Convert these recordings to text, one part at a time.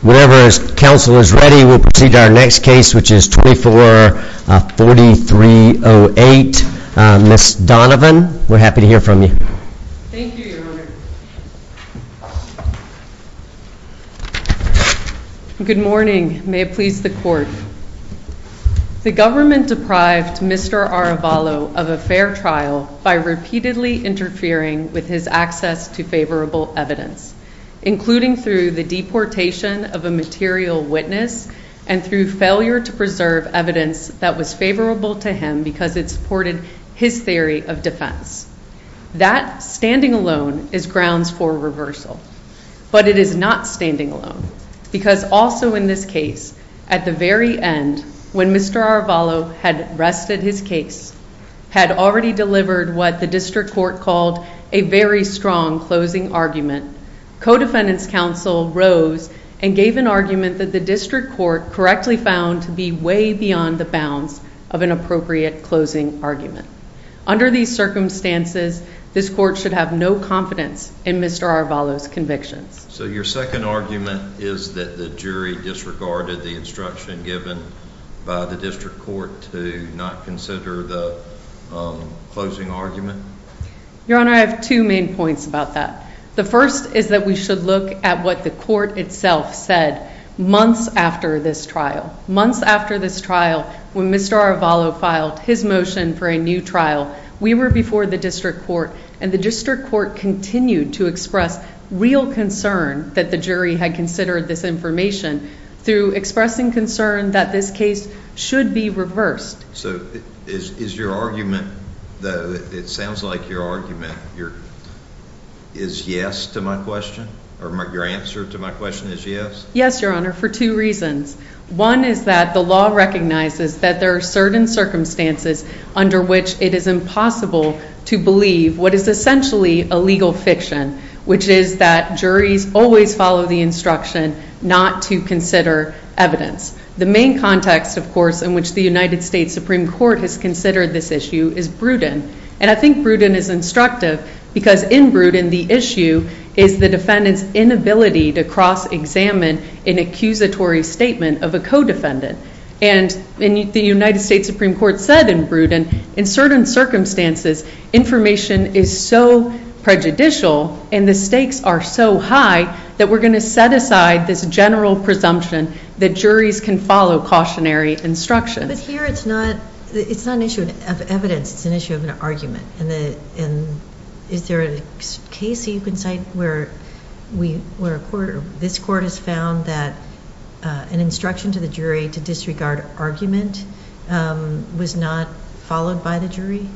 Whenever counsel is ready, we'll proceed to our next case, which is 24-4308. Ms. Donovan, we're happy to hear from you. Thank you, Your Honor. Good morning. May it please the Court. The government deprived Mr. Arevalo of a fair trial by repeatedly interfering with his access to favorable evidence, including through the deportation of a material witness and through failure to preserve evidence that was favorable to him because it supported his theory of defense. That standing alone is grounds for reversal, but it is not standing alone, because also in this case, at the very end, when Mr. Arevalo had rested his case, had already delivered what the district court called a very strong closing argument, co-defendant's counsel rose and gave an argument that the district court correctly found to be way beyond the bounds of an appropriate closing argument. Under these circumstances, this court should have no confidence in Mr. Arevalo's convictions. So your second argument is that the jury disregarded the instruction given by the district court to not consider the closing argument? Your Honor, I have two main points about that. The first is that we should look at what the court itself said months after this trial. Months after this trial, when Mr. Arevalo filed his motion for a new trial, we were before the district court, and the district court continued to express real concern that the jury had considered this information through expressing concern that this case should be reversed. So is your argument, though, it sounds like your argument is yes to my question, or your answer to my question is yes? Yes, Your Honor, for two reasons. One is that the law recognizes that there are certain circumstances under which it is impossible to believe what is essentially a legal fiction, which is that juries always follow the instruction not to consider evidence. The main context, of course, in which the United States Supreme Court has considered this issue is Bruton. And I think Bruton is instructive because in Bruton the issue is the defendant's inability to cross-examine an accusatory statement of a co-defendant. And the United States Supreme Court said in Bruton, in certain circumstances, information is so prejudicial and the stakes are so high that we're going to set aside this general presumption that juries can follow cautionary instructions. But here it's not an issue of evidence, it's an issue of an argument. And is there a case that you can cite where this court has found that an instruction to the jury to disregard argument was not followed by the jury?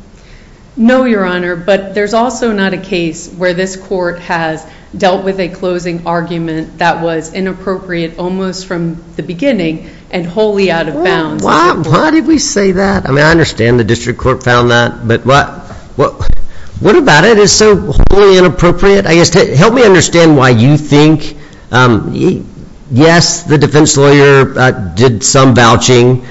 No, Your Honor, but there's also not a case where this court has dealt with a closing argument that was inappropriate almost from the beginning and wholly out of bounds. Why did we say that? I mean, I understand the district court found that, but what about it is so wholly inappropriate? Help me understand why you think, yes, the defense lawyer did some vouching.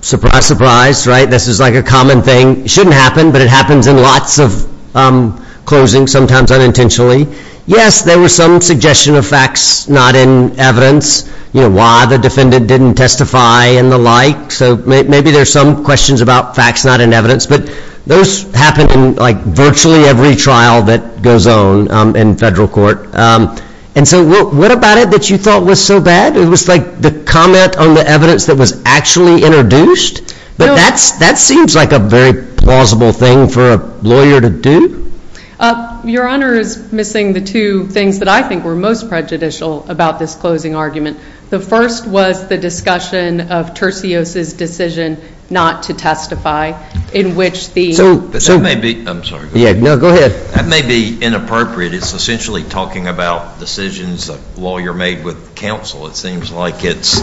Surprise, surprise, right? This is like a common thing. It shouldn't happen, but it happens in lots of closings, sometimes unintentionally. Yes, there was some suggestion of facts not in evidence, you know, why the defendant didn't testify and the like. So maybe there's some questions about facts not in evidence, but those happen in like virtually every trial that goes on in federal court. And so what about it that you thought was so bad? It was like the comment on the evidence that was actually introduced, but that seems like a very plausible thing for a lawyer to do. Your Honor is missing the two things that I think were most prejudicial about this closing argument. The first was the discussion of Tercios's decision not to testify in which the – So that may be – I'm sorry. No, go ahead. That may be inappropriate. It's essentially talking about decisions a lawyer made with counsel. It seems like it's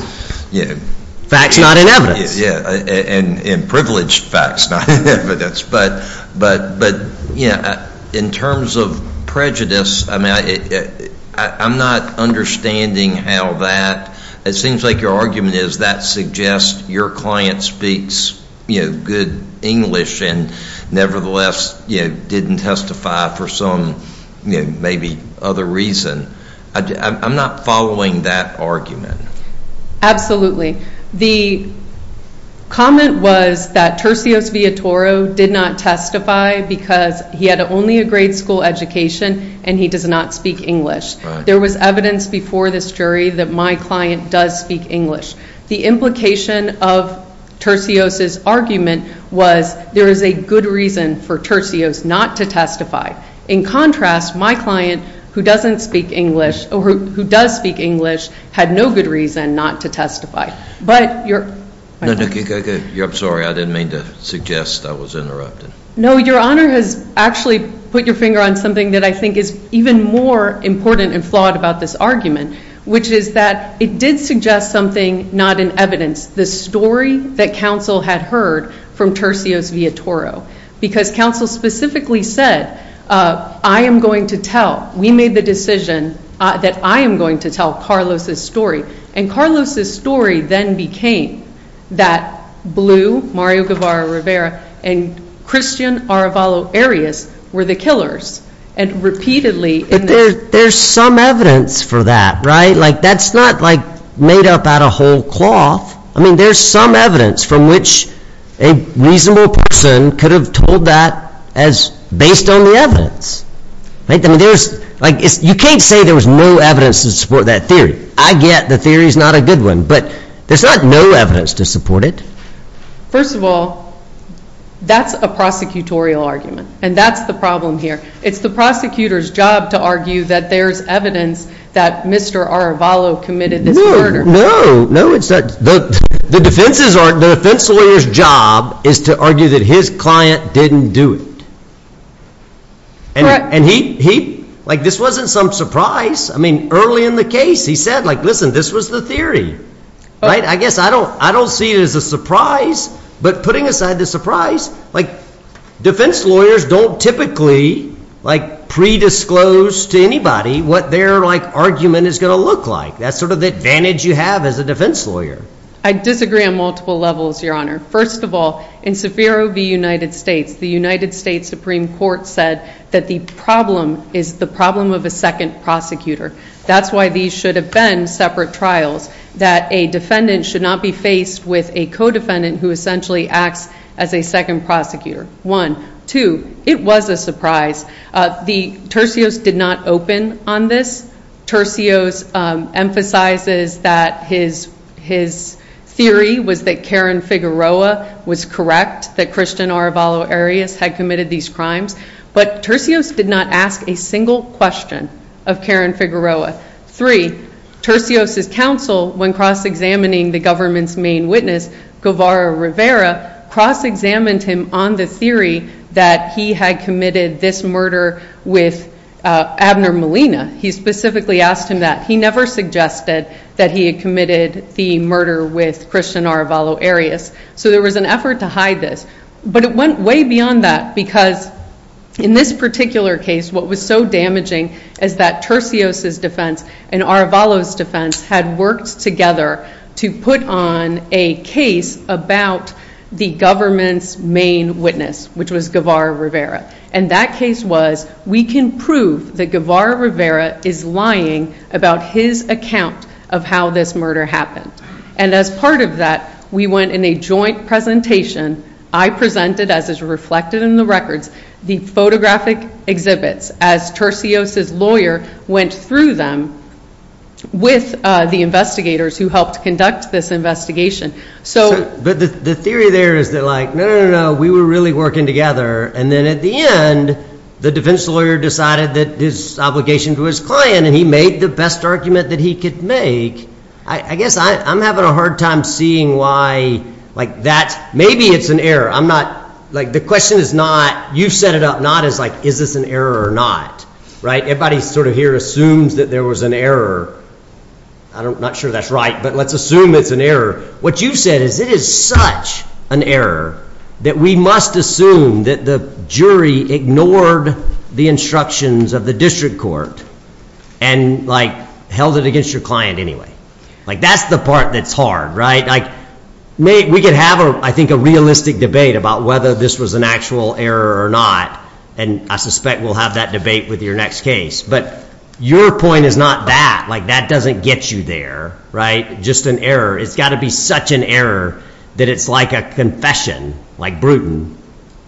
– Facts not in evidence. And privileged facts not in evidence. But, you know, in terms of prejudice, I mean, I'm not understanding how that – it seems like your argument is that suggests your client speaks, you know, good English and nevertheless, you know, didn't testify for some maybe other reason. I'm not following that argument. Absolutely. The comment was that Tercios Villatoro did not testify because he had only a grade school education and he does not speak English. There was evidence before this jury that my client does speak English. The implication of Tercios's argument was there is a good reason for Tercios not to testify. In contrast, my client who doesn't speak English or who does speak English had no good reason not to testify. But your – No, no. I'm sorry. I didn't mean to suggest I was interrupted. No, your Honor has actually put your finger on something that I think is even more important and flawed about this argument, which is that it did suggest something not in evidence, the story that counsel had heard from Tercios Villatoro. Because counsel specifically said, I am going to tell – we made the decision that I am going to tell Carlos's story. And Carlos's story then became that Blue, Mario Guevara Rivera, and Christian Arevalo Arias were the killers. And repeatedly – But there's some evidence for that, right? Like that's not like made up out of whole cloth. I mean there's some evidence from which a reasonable person could have told that as based on the evidence. I mean there's – like you can't say there was no evidence to support that theory. I get the theory is not a good one, but there's not no evidence to support it. First of all, that's a prosecutorial argument, and that's the problem here. It's the prosecutor's job to argue that there's evidence that Mr. Arevalo committed this murder. No, no. The defense lawyer's job is to argue that his client didn't do it. And he – like this wasn't some surprise. I mean early in the case he said like, listen, this was the theory, right? I guess I don't see it as a surprise. But putting aside the surprise, like defense lawyers don't typically like predisclose to anybody what their like argument is going to look like. That's sort of the advantage you have as a defense lawyer. I disagree on multiple levels, Your Honor. First of all, in Saffiro v. United States, the United States Supreme Court said that the problem is the problem of a second prosecutor. That's why these should have been separate trials, that a defendant should not be faced with a co-defendant who essentially acts as a second prosecutor. One. Two, it was a surprise. The tercios did not open on this. Tercios emphasizes that his theory was that Karen Figueroa was correct, that Christian Arevalo Arias had committed these crimes. But tercios did not ask a single question of Karen Figueroa. Three, tercios' counsel, when cross-examining the government's main witness, Guevara Rivera, cross-examined him on the theory that he had committed this murder with Abner Molina. He specifically asked him that. He never suggested that he had committed the murder with Christian Arevalo Arias. So there was an effort to hide this. But it went way beyond that because in this particular case, what was so damaging is that tercios' defense and Arevalo's defense had worked together to put on a case about the government's main witness, which was Guevara Rivera. And that case was, we can prove that Guevara Rivera is lying about his account of how this murder happened. And as part of that, we went in a joint presentation. I presented, as is reflected in the records, the photographic exhibits as tercios' lawyer went through them with the investigators who helped conduct this investigation. But the theory there is that, like, no, no, no, no, we were really working together. And then at the end, the defense lawyer decided that this obligation to his client, and he made the best argument that he could make. I guess I'm having a hard time seeing why, like, that maybe it's an error. I'm not, like, the question is not, you set it up not as, like, is this an error or not, right? Everybody sort of here assumes that there was an error. I'm not sure that's right, but let's assume it's an error. What you said is it is such an error that we must assume that the jury ignored the instructions of the district court and, like, held it against your client anyway. Like, that's the part that's hard, right? Like, we could have, I think, a realistic debate about whether this was an actual error or not. And I suspect we'll have that debate with your next case. But your point is not that. Like, that doesn't get you there, right? Just an error. It's got to be such an error that it's like a confession, like Bruton,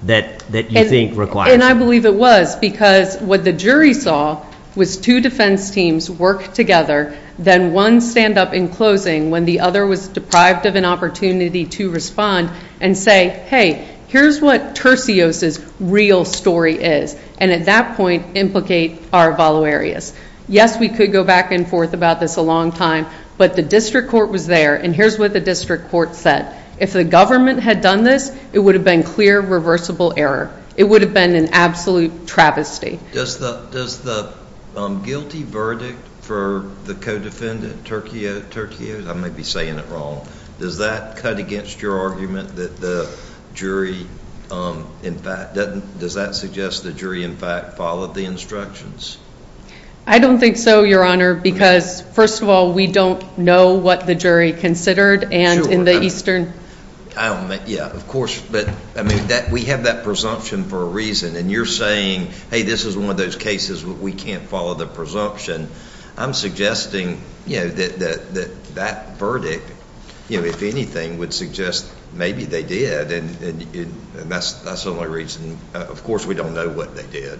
that you think requires it. And I believe it was because what the jury saw was two defense teams work together. Then one stand up in closing when the other was deprived of an opportunity to respond and say, hey, here's what Tercios' real story is. And at that point implicate our voluarius. Yes, we could go back and forth about this a long time, but the district court was there, and here's what the district court said. If the government had done this, it would have been clear, reversible error. It would have been an absolute travesty. Does the guilty verdict for the co-defendant, Tercios, I may be saying it wrong, does that cut against your argument that the jury, in fact, does that suggest the jury, in fact, followed the instructions? I don't think so, Your Honor, because, first of all, we don't know what the jury considered. Sure. And in the eastern. Yeah, of course, but we have that presumption for a reason, and you're saying, hey, this is one of those cases where we can't follow the presumption. I'm suggesting that that verdict, if anything, would suggest maybe they did, and that's the only reason. Of course, we don't know what they did.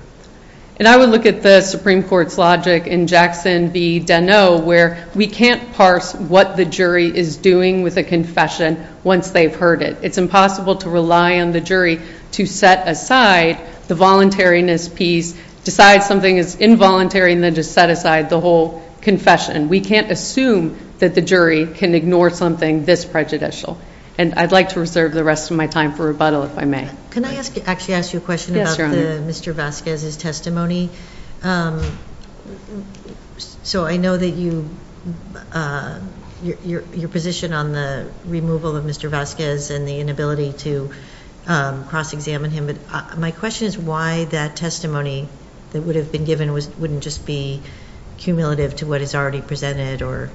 And I would look at the Supreme Court's logic in Jackson v. Deneau, where we can't parse what the jury is doing with a confession once they've heard it. It's impossible to rely on the jury to set aside the voluntariness piece, decide something is involuntary, and then just set aside the whole confession. We can't assume that the jury can ignore something this prejudicial, and I'd like to reserve the rest of my time for rebuttal, if I may. Can I actually ask you a question about Mr. Vasquez's testimony? So I know that your position on the removal of Mr. Vasquez and the inability to cross-examine him, but my question is why that testimony that would have been given wouldn't just be cumulative to what is already presented, or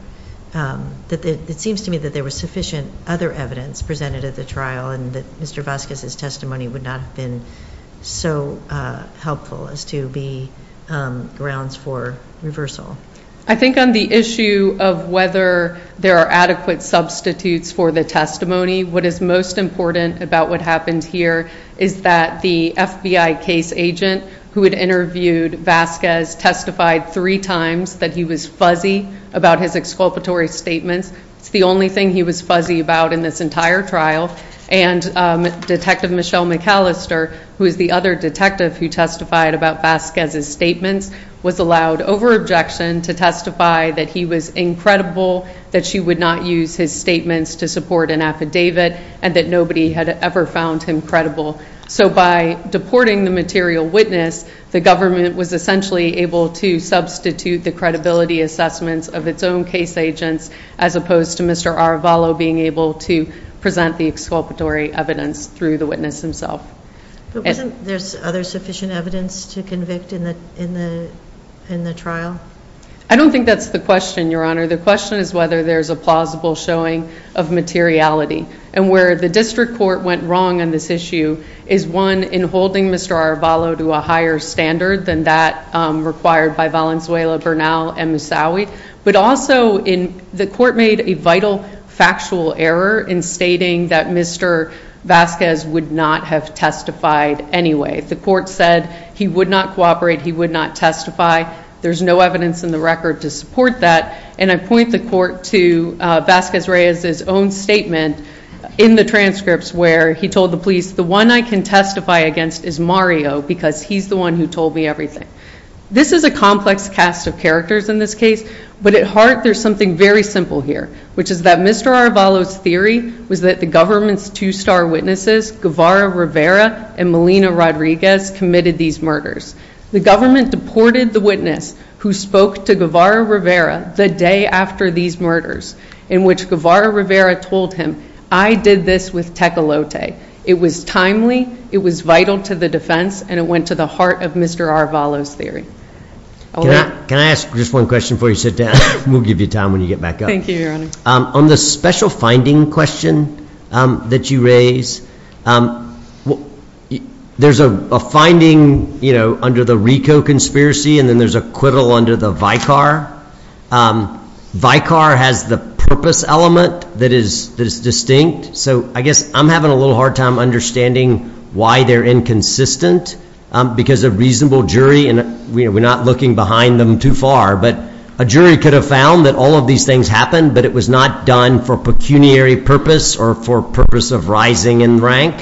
it seems to me that there was sufficient other evidence presented at the trial and that Mr. Vasquez's testimony would not have been so helpful as to be grounds for reversal. I think on the issue of whether there are adequate substitutes for the testimony, what is most important about what happened here is that the FBI case agent who had interviewed Vasquez testified three times that he was fuzzy about his exculpatory statements. It's the only thing he was fuzzy about in this entire trial. And Detective Michelle McAllister, who is the other detective who testified about Vasquez's statements, was allowed, over objection, to testify that he was incredible, that she would not use his statements to support an affidavit, and that nobody had ever found him credible. So by deporting the material witness, the government was essentially able to substitute the credibility assessments of its own case agents as opposed to Mr. Aravalo being able to present the exculpatory evidence through the witness himself. But wasn't there other sufficient evidence to convict in the trial? I don't think that's the question, Your Honor. The question is whether there's a plausible showing of materiality. And where the district court went wrong on this issue is, one, in holding Mr. Aravalo to a higher standard than that required by Valenzuela, Bernal, and Moussaoui, but also the court made a vital factual error in stating that Mr. Vasquez would not have testified anyway. The court said he would not cooperate, he would not testify. There's no evidence in the record to support that. And I point the court to Vasquez Reyes's own statement in the transcripts where he told the police, the one I can testify against is Mario because he's the one who told me everything. This is a complex cast of characters in this case, but at heart there's something very simple here, which is that Mr. Aravalo's theory was that the government's two star witnesses, Guevara Rivera and Melina Rodriguez, committed these murders. The government deported the witness who spoke to Guevara Rivera the day after these murders, in which Guevara Rivera told him, I did this with Tecolote. It was timely, it was vital to the defense, and it went to the heart of Mr. Aravalo's theory. Can I ask just one question before you sit down? We'll give you time when you get back up. Thank you, Your Honor. On the special finding question that you raise, there's a finding, you know, under the Rico conspiracy and then there's a quiddle under the Vicar. Vicar has the purpose element that is distinct, so I guess I'm having a little hard time understanding why they're inconsistent because a reasonable jury, and we're not looking behind them too far, but a jury could have found that all of these things happened, but it was not done for pecuniary purpose or for purpose of rising in rank,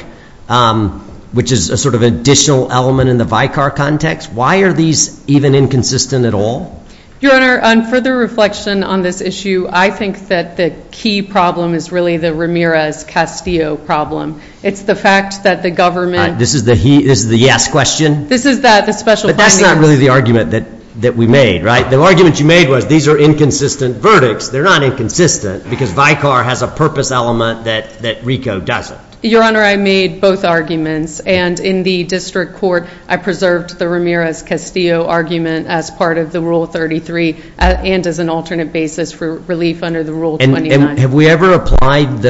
which is a sort of additional element in the Vicar context. Why are these even inconsistent at all? Your Honor, on further reflection on this issue, I think that the key problem is really the Ramirez-Castillo problem. It's the fact that the government- This is the yes question? This is the special finding. But that's not really the argument that we made, right? The argument you made was these are inconsistent verdicts. They're not inconsistent because Vicar has a purpose element that Rico doesn't. Your Honor, I made both arguments, and in the district court I preserved the Ramirez-Castillo argument as part of the Rule 33 and as an alternate basis for relief under the Rule 29. Have we ever applied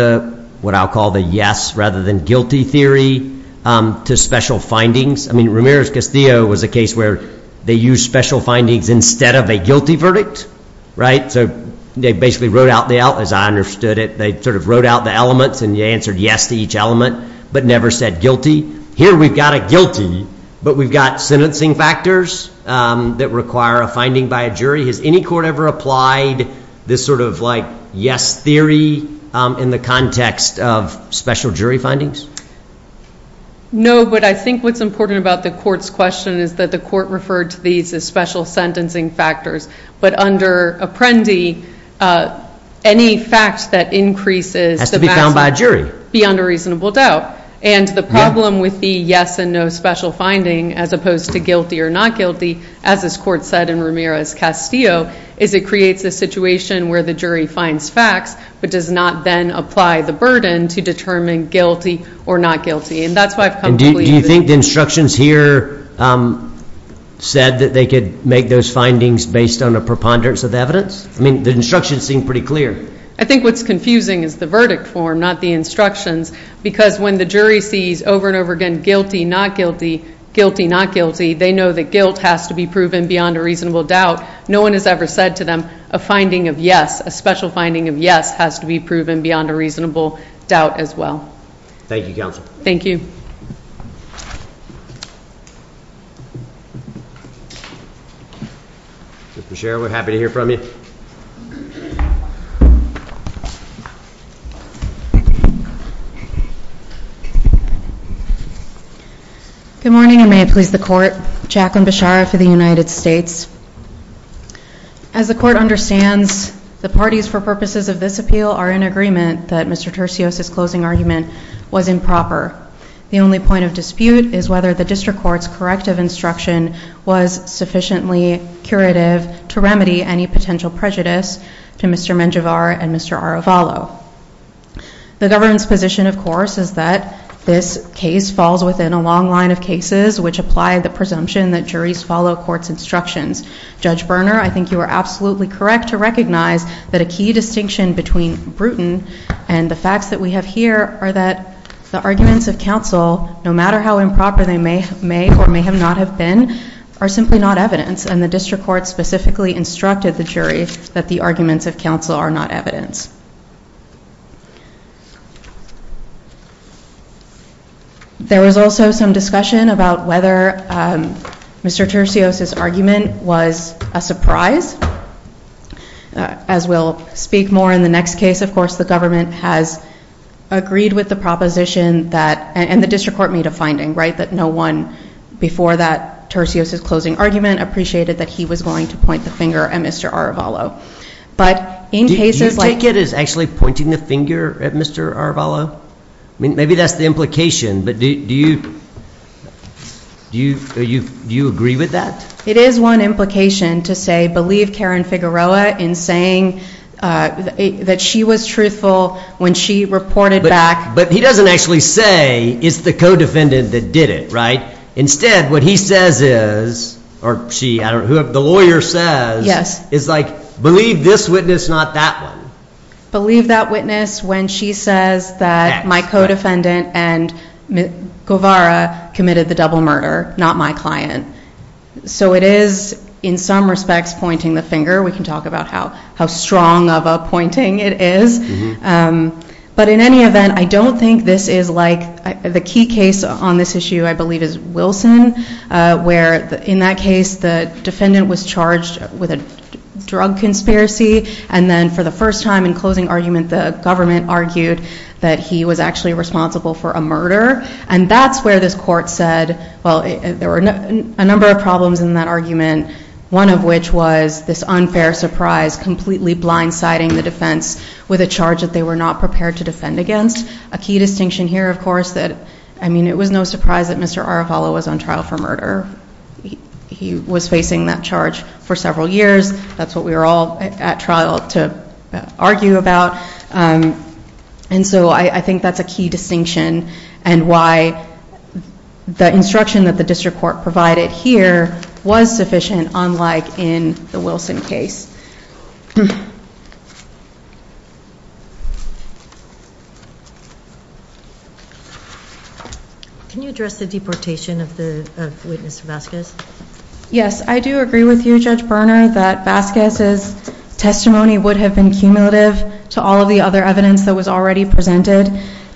what I'll call the yes rather than guilty theory to special findings? I mean, Ramirez-Castillo was a case where they used special findings instead of a guilty verdict, right? So they basically wrote out the- As I understood it, they sort of wrote out the elements and answered yes to each element but never said guilty. Here we've got a guilty, but we've got sentencing factors that require a finding by a jury. Has any court ever applied this sort of like yes theory in the context of special jury findings? No, but I think what's important about the court's question is that the court referred to these as special sentencing factors. But under Apprendi, any fact that increases the maximum- Has to be found by a jury. Beyond a reasonable doubt. And the problem with the yes and no special finding as opposed to guilty or not guilty, as this court said in Ramirez-Castillo, is it creates a situation where the jury finds facts but does not then apply the burden to determine guilty or not guilty. And that's why I've come to believe- And do you think the instructions here said that they could make those findings based on a preponderance of evidence? I mean, the instructions seem pretty clear. I think what's confusing is the verdict form, not the instructions, because when the jury sees over and over again guilty, not guilty, guilty, not guilty, they know that guilt has to be proven beyond a reasonable doubt. No one has ever said to them, a finding of yes, a special finding of yes, has to be proven beyond a reasonable doubt as well. Thank you, counsel. Thank you. Ms. Bechara, we're happy to hear from you. Good morning, and may it please the court. Jacqueline Bechara for the United States. As the court understands, the parties for purposes of this appeal are in agreement that Mr. Tercios's closing argument was improper. The only point of dispute is whether the district court's corrective instruction was sufficiently curative to remedy any potential prejudice to Mr. Menjivar and Mr. Arevalo. The government's position, of course, is that this case falls within a long line of cases which apply the presumption that juries follow court's instructions. Judge Berner, I think you are absolutely correct to recognize that a key distinction between Bruton and the facts that we have here are that the arguments of counsel, no matter how improper they may or may have not have been, are simply not evidence, and the district court specifically instructed the jury that the arguments of counsel are not evidence. There was also some discussion about whether Mr. Tercios's argument was a surprise. As we'll speak more in the next case, of course, the government has agreed with the proposition that, and the district court made a finding, right, that no one before that Tercios's closing argument appreciated that he was going to point the finger at Mr. Arevalo. Do you take it as actually pointing the finger at Mr. Arevalo? I mean, maybe that's the implication, but do you agree with that? It is one implication to say, believe Karen Figueroa in saying that she was truthful when she reported back. But he doesn't actually say, it's the co-defendant that did it, right? Instead, what he says is, or the lawyer says, is like, believe this witness, not that one. Believe that witness when she says that my co-defendant and Guevara committed the double murder, not my client. So it is, in some respects, pointing the finger. We can talk about how strong of a pointing it is. But in any event, I don't think this is like, the key case on this issue, I believe, is Wilson, where in that case, the defendant was charged with a drug conspiracy, and then for the first time in closing argument, the government argued that he was actually responsible for a murder. And that's where this court said, well, there were a number of problems in that argument, one of which was this unfair surprise, completely blindsiding the defense with a charge that they were not prepared to defend against. A key distinction here, of course, that, I mean, it was no surprise that Mr. Arevalo was on trial for murder. He was facing that charge for several years. That's what we were all at trial to argue about. And so I think that's a key distinction, and why the instruction that the district court provided here was sufficient, unlike in the Wilson case. Can you address the deportation of the witness Vasquez? Yes, I do agree with you, Judge Berner, that Vasquez's testimony would have been cumulative to all of the other evidence that was already presented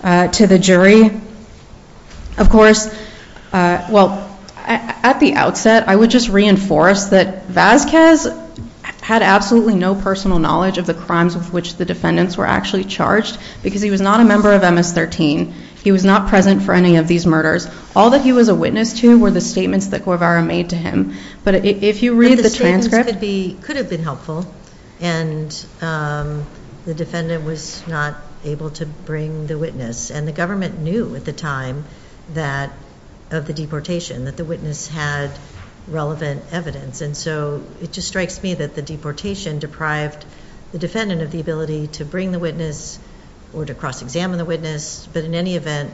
to the jury. Of course, well, at the outset, I would just reinforce that Vasquez had absolutely no personal knowledge of the crimes with which the defendants were actually charged, because he was not a member of MS-13. He was not present for any of these murders. All that he was a witness to were the statements that Guevara made to him. But if you read the transcript... But the statements could have been helpful, and the defendant was not able to bring the witness. And the government knew at the time of the deportation that the witness had relevant evidence. And so it just strikes me that the deportation deprived the defendant of the ability to bring the witness or to cross-examine the witness. But in any event,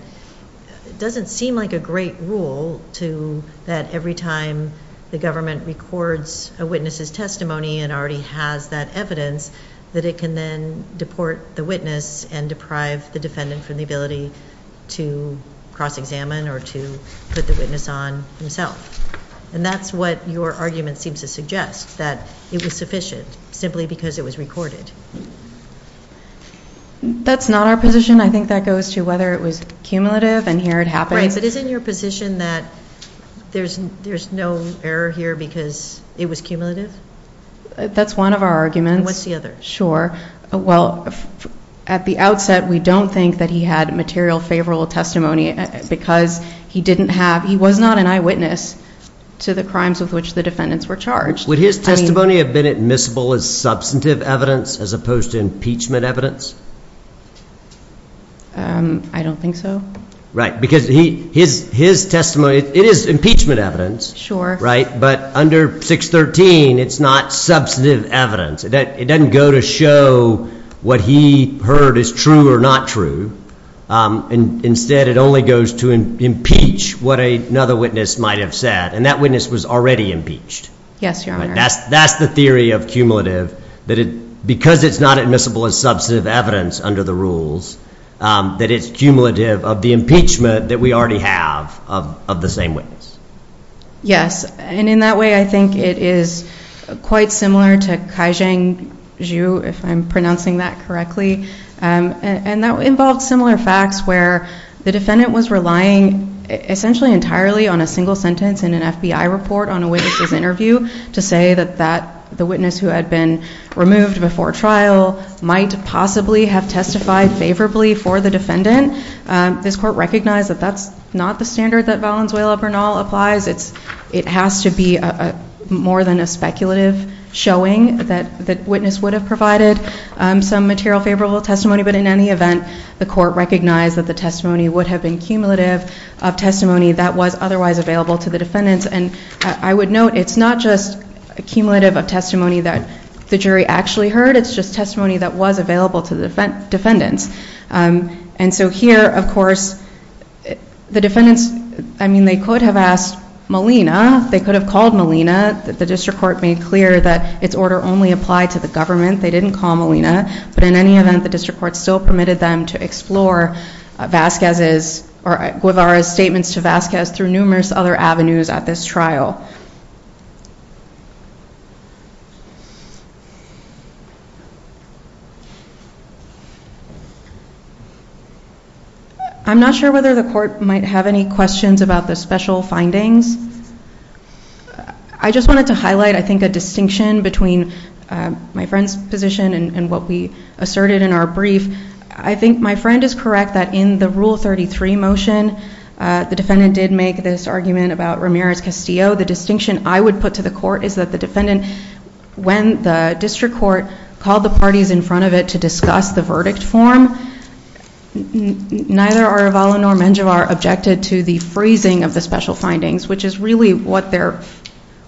it doesn't seem like a great rule that every time the government records a witness's testimony and already has that evidence, that it can then deport the witness and deprive the defendant from the ability to cross-examine or to put the witness on himself. And that's what your argument seems to suggest, that it was sufficient simply because it was recorded. That's not our position. I think that goes to whether it was cumulative and here it happens. Right, but isn't your position that there's no error here because it was cumulative? That's one of our arguments. And what's the other? Sure. Well, at the outset, we don't think that he had material favorable testimony because he didn't have ‑‑ he was not an eyewitness to the crimes with which the defendants were charged. Would his testimony have been admissible as substantive evidence as opposed to impeachment evidence? I don't think so. Right, because his testimony, it is impeachment evidence. Sure. Right, but under 613, it's not substantive evidence. It doesn't go to show what he heard is true or not true. Instead, it only goes to impeach what another witness might have said, and that witness was already impeached. Yes, Your Honor. That's the theory of cumulative, that because it's not admissible as substantive evidence under the rules, that it's cumulative of the impeachment that we already have of the same witness. Yes, and in that way, I think it is quite similar to Kaizhang Zhu, if I'm pronouncing that correctly, and that involved similar facts where the defendant was relying essentially entirely on a single sentence in an FBI report on a witness's interview to say that the witness who had been removed before trial might possibly have testified favorably for the defendant. This Court recognized that that's not the standard that Valenzuela-Bernal applies. It has to be more than a speculative showing that the witness would have provided some material favorable testimony, but in any event, the Court recognized that the testimony would have been cumulative of testimony that was otherwise available to the defendants. And I would note it's not just a cumulative of testimony that the jury actually heard. It's just testimony that was available to the defendants. And so here, of course, the defendants, I mean, they could have asked Molina. They could have called Molina. The District Court made clear that its order only applied to the government. They didn't call Molina. But in any event, the District Court still permitted them to explore Vasquez's or Guevara's statements to Vasquez through numerous other avenues at this trial. I'm not sure whether the Court might have any questions about the special findings. I just wanted to highlight, I think, a distinction between my friend's position and what we asserted in our brief. I think my friend is correct that in the Rule 33 motion, the defendant did make this argument about Ramirez-Castillo. The distinction I would put to the Court is that the defendant, when the District Court called the parties in front of it to discuss the verdict form, neither Arevalo nor Menjivar objected to the freezing of the special findings, which is really what their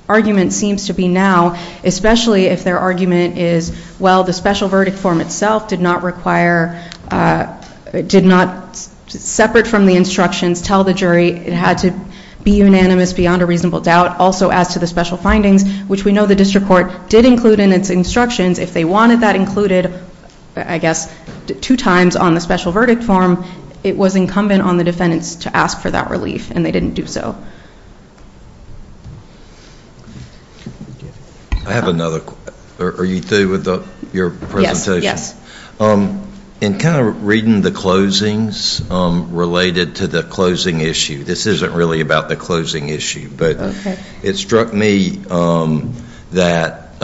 argument seems to be now, especially if their argument is, well, the special verdict form itself did not require, did not separate from the instructions, tell the jury it had to be unanimous beyond a reasonable doubt, also as to the special findings, which we know the District Court did include in its instructions. If they wanted that included, I guess, two times on the special verdict form, it was incumbent on the defendants to ask for that relief, and they didn't do so. I have another. Are you through with your presentation? Yes, yes. In kind of reading the closings related to the closing issue, this isn't really about the closing issue, but it struck me that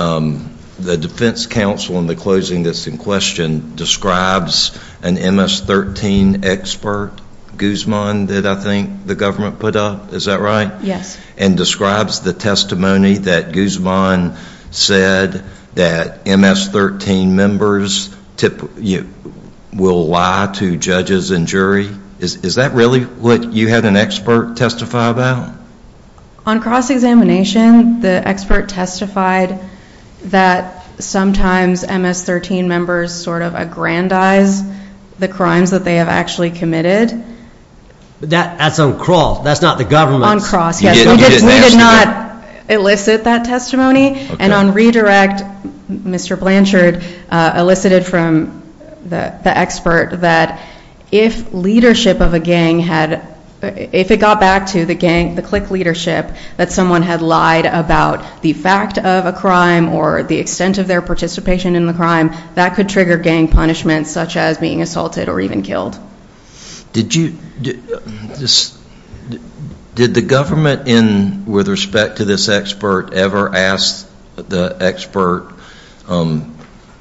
the defense counsel in the closing that's in question describes an MS-13 expert, Guzman, did I think the government put up? Is that right? Yes. And describes the testimony that Guzman said that MS-13 members will lie to judges and jury. Is that really what you had an expert testify about? On cross-examination, the expert testified that sometimes MS-13 members sort of aggrandize the crimes that they have actually committed. But that's on cross. That's not the government. On cross, yes. You didn't get an expert. We did not elicit that testimony. Okay. And on redirect, Mr. Blanchard elicited from the expert that if leadership of a gang had, if it got back to the gang, the clique leadership, that someone had lied about the fact of a crime or the extent of their participation in the crime, that could trigger gang punishment such as being assaulted or even killed. Did you, did the government with respect to this expert ever ask the expert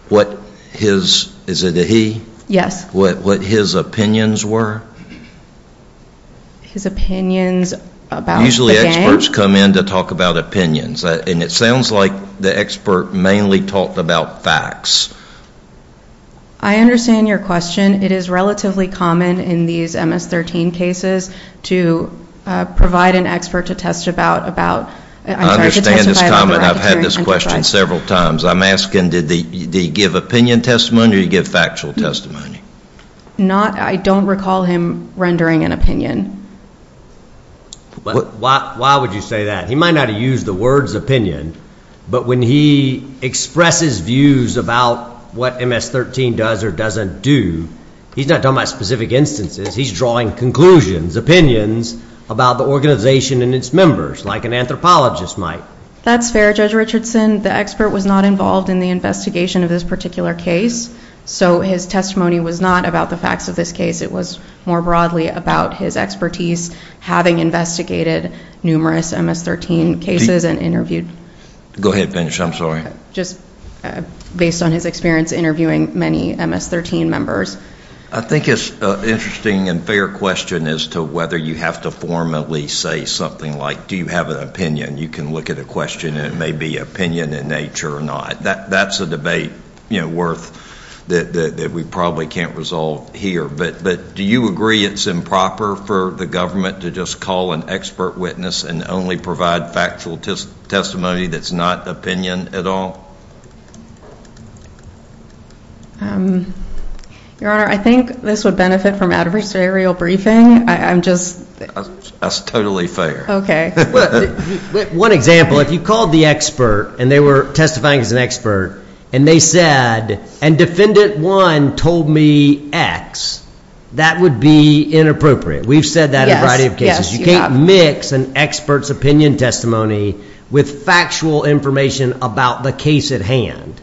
what his, is it a he? Yes. What his opinions were? His opinions about the gang? Usually experts come in to talk about opinions. And it sounds like the expert mainly talked about facts. I understand your question. It is relatively common in these MS-13 cases to provide an expert to testify about. I understand his comment. I've had this question several times. I'm asking, did he give opinion testimony or did he give factual testimony? Not, I don't recall him rendering an opinion. Why would you say that? He might not have used the words opinion, but when he expresses views about what MS-13 does or doesn't do, he's not talking about specific instances. He's drawing conclusions, opinions about the organization and its members like an anthropologist might. That's fair, Judge Richardson. The expert was not involved in the investigation of this particular case. So his testimony was not about the facts of this case. It was more broadly about his expertise, having investigated numerous MS-13 cases and interviewed. Go ahead and finish. I'm sorry. Just based on his experience interviewing many MS-13 members. I think it's an interesting and fair question as to whether you have to formally say something like, do you have an opinion? You can look at a question and it may be opinion in nature or not. That's a debate worth that we probably can't resolve here. But do you agree it's improper for the government to just call an expert witness and only provide factual testimony that's not opinion at all? Your Honor, I think this would benefit from adversarial briefing. I'm just – That's totally fair. Okay. One example, if you called the expert and they were testifying as an expert and they said, and Defendant 1 told me X, that would be inappropriate. We've said that in a variety of cases. Yes, you have. You can't mix an expert's opinion testimony with factual information about the case at hand,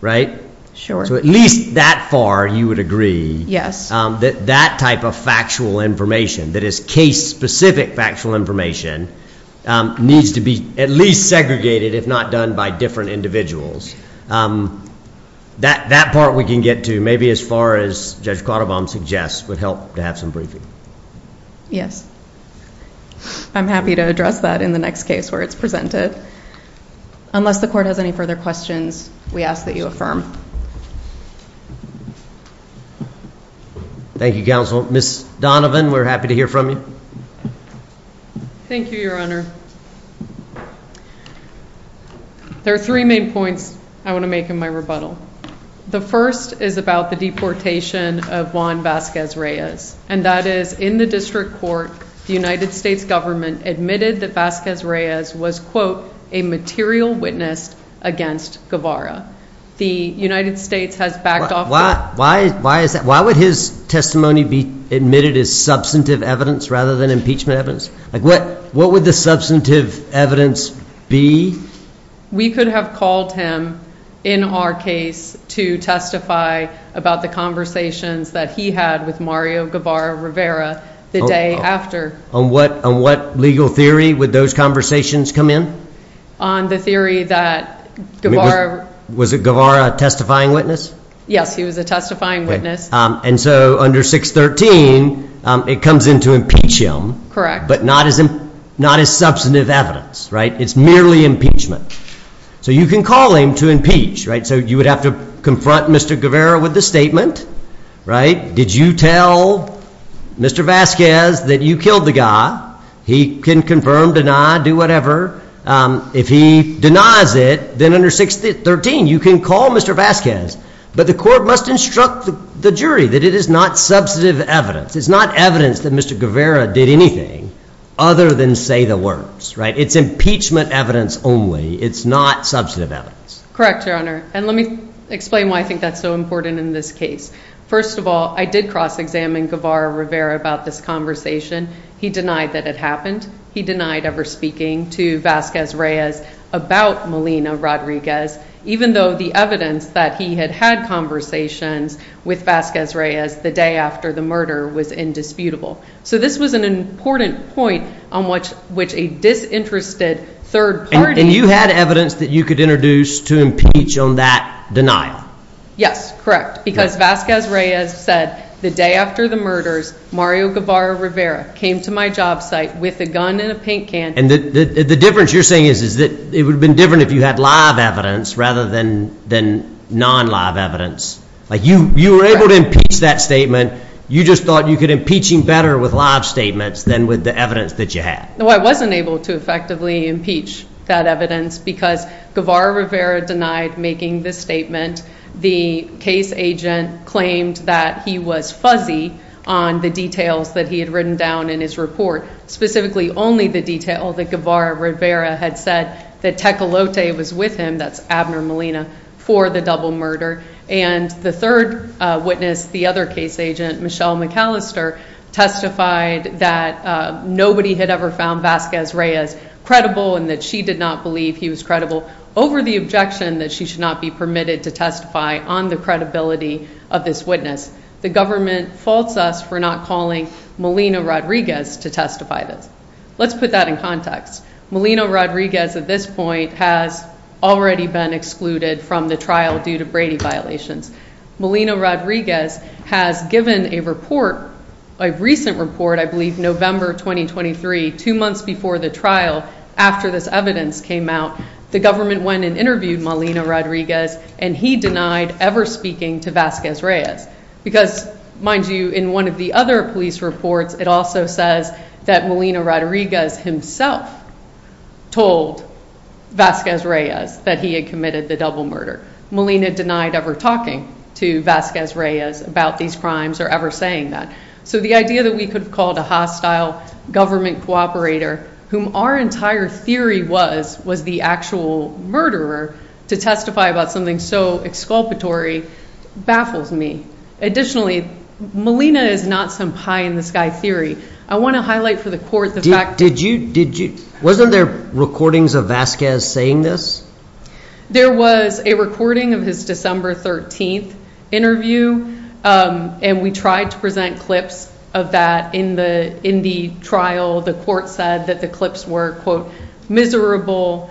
right? Sure. So at least that far you would agree that that type of factual information, that is case-specific factual information, needs to be at least segregated, if not done by different individuals. That part we can get to maybe as far as Judge Quattlebaum suggests would help to have some briefing. Yes. I'm happy to address that in the next case where it's presented. Unless the Court has any further questions, we ask that you affirm. Thank you, Counsel. Ms. Donovan, we're happy to hear from you. Thank you, Your Honor. There are three main points I want to make in my rebuttal. The first is about the deportation of Juan Vasquez-Reyes, and that is, in the district court, the United States government admitted that Vasquez-Reyes was, quote, a material witness against Guevara. The United States has backed off that. Why would his testimony be admitted as substantive evidence rather than impeachment evidence? What would the substantive evidence be? We could have called him, in our case, to testify about the conversations that he had with Mario Guevara Rivera the day after. On what legal theory would those conversations come in? On the theory that Guevara… Was Guevara a testifying witness? Yes, he was a testifying witness. And so under 613, it comes in to impeach him. Correct. But not as substantive evidence, right? It's merely impeachment. So you can call him to impeach, right? So you would have to confront Mr. Guevara with the statement, right? Did you tell Mr. Vasquez that you killed the guy? He can confirm, deny, do whatever. If he denies it, then under 613, you can call Mr. Vasquez. But the court must instruct the jury that it is not substantive evidence. It's not evidence that Mr. Guevara did anything other than say the words, right? It's impeachment evidence only. It's not substantive evidence. Correct, Your Honor. And let me explain why I think that's so important in this case. First of all, I did cross-examine Guevara Rivera about this conversation. He denied that it happened. He denied ever speaking to Vasquez-Reyes about Melina Rodriguez, even though the evidence that he had had conversations with Vasquez-Reyes the day after the murder was indisputable. So this was an important point on which a disinterested third party— And you had evidence that you could introduce to impeach on that denial. Yes, correct, because Vasquez-Reyes said, The day after the murders, Mario Guevara Rivera came to my job site with a gun and a paint can. And the difference you're saying is that it would have been different if you had live evidence rather than non-live evidence. Like you were able to impeach that statement. You just thought you could impeach him better with live statements than with the evidence that you had. No, I wasn't able to effectively impeach that evidence because Guevara Rivera denied making the statement. The case agent claimed that he was fuzzy on the details that he had written down in his report, specifically only the detail that Guevara Rivera had said that Tecolote was with him, that's Abner Melina, for the double murder. And the third witness, the other case agent, Michelle McAllister, testified that nobody had ever found Vasquez-Reyes credible and that she did not believe he was credible over the objection that she should not be permitted to testify on the credibility of this witness. The government faults us for not calling Melina Rodriguez to testify this. Let's put that in context. Melina Rodriguez at this point has already been excluded from the trial due to Brady violations. Melina Rodriguez has given a report, a recent report, I believe November 2023, two months before the trial after this evidence came out. The government went and interviewed Melina Rodriguez and he denied ever speaking to Vasquez-Reyes because, mind you, in one of the other police reports, it also says that Melina Rodriguez himself told Vasquez-Reyes that he had committed the double murder. Melina denied ever talking to Vasquez-Reyes about these crimes or ever saying that. So the idea that we could have called a hostile government cooperator, whom our entire theory was the actual murderer, to testify about something so exculpatory baffles me. Additionally, Melina is not some pie-in-the-sky theory. I want to highlight for the court the fact that – Did you – wasn't there recordings of Vasquez saying this? There was a recording of his December 13th interview and we tried to present clips of that in the trial. The court said that the clips were, quote, miserable.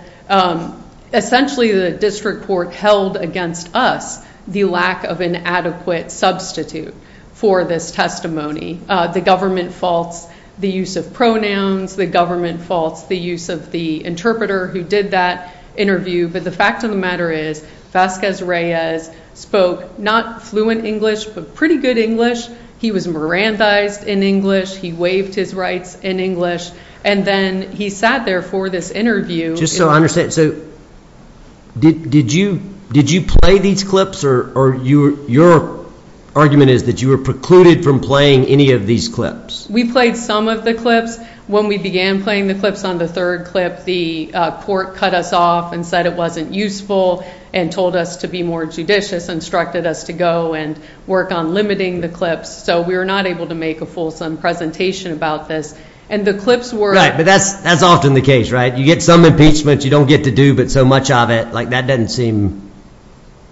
Essentially, the district court held against us the lack of an adequate substitute for this testimony. The government faults, the use of pronouns, the government faults, the use of the interpreter who did that interview. But the fact of the matter is Vasquez-Reyes spoke not fluent English but pretty good English. He was Mirandized in English. He waived his rights in English, and then he sat there for this interview. Just so I understand, so did you play these clips or your argument is that you were precluded from playing any of these clips? We played some of the clips. When we began playing the clips on the third clip, the court cut us off and said it wasn't useful and told us to be more judicious, instructed us to go and work on limiting the clips, so we were not able to make a fulsome presentation about this. And the clips were – Right, but that's often the case, right? You get some impeachment you don't get to do but so much of it. Like, that doesn't seem –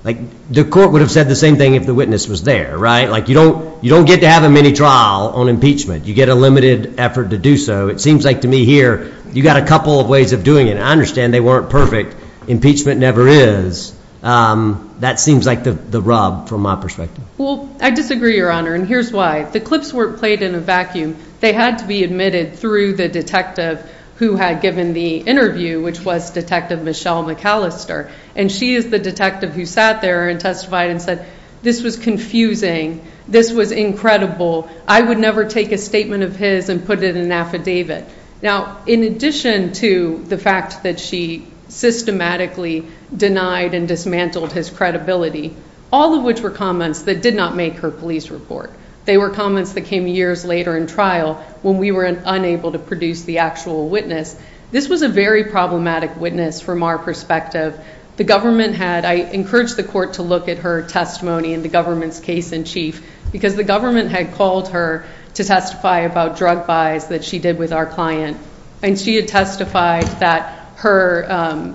like, the court would have said the same thing if the witness was there, right? Like, you don't get to have a mini-trial on impeachment. You get a limited effort to do so. It seems like to me here you've got a couple of ways of doing it. I understand they weren't perfect. Impeachment never is. That seems like the rub from my perspective. Well, I disagree, Your Honor, and here's why. The clips weren't played in a vacuum. They had to be admitted through the detective who had given the interview, which was Detective Michelle McAllister, and she is the detective who sat there and testified and said, this was confusing, this was incredible, I would never take a statement of his and put it in an affidavit. Now, in addition to the fact that she systematically denied and dismantled his credibility, all of which were comments that did not make her police report, they were comments that came years later in trial when we were unable to produce the actual witness, this was a very problematic witness from our perspective. The government had, I encourage the court to look at her testimony in the government's case in chief, because the government had called her to testify about drug buys that she did with our client, and she had testified that her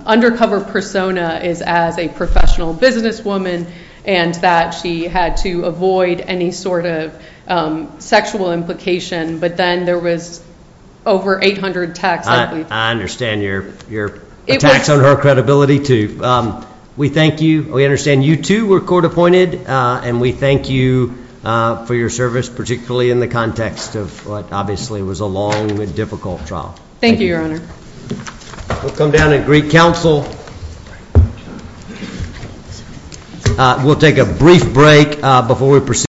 undercover persona is as a professional businesswoman and that she had to avoid any sort of sexual implication, but then there was over 800 texts. I understand your attacks on her credibility, too. We thank you. We understand you, too, were court appointed, and we thank you for your service, particularly in the context of what obviously was a long and difficult trial. Thank you, Your Honor. We'll come down and greet counsel. We'll take a brief break before we proceed.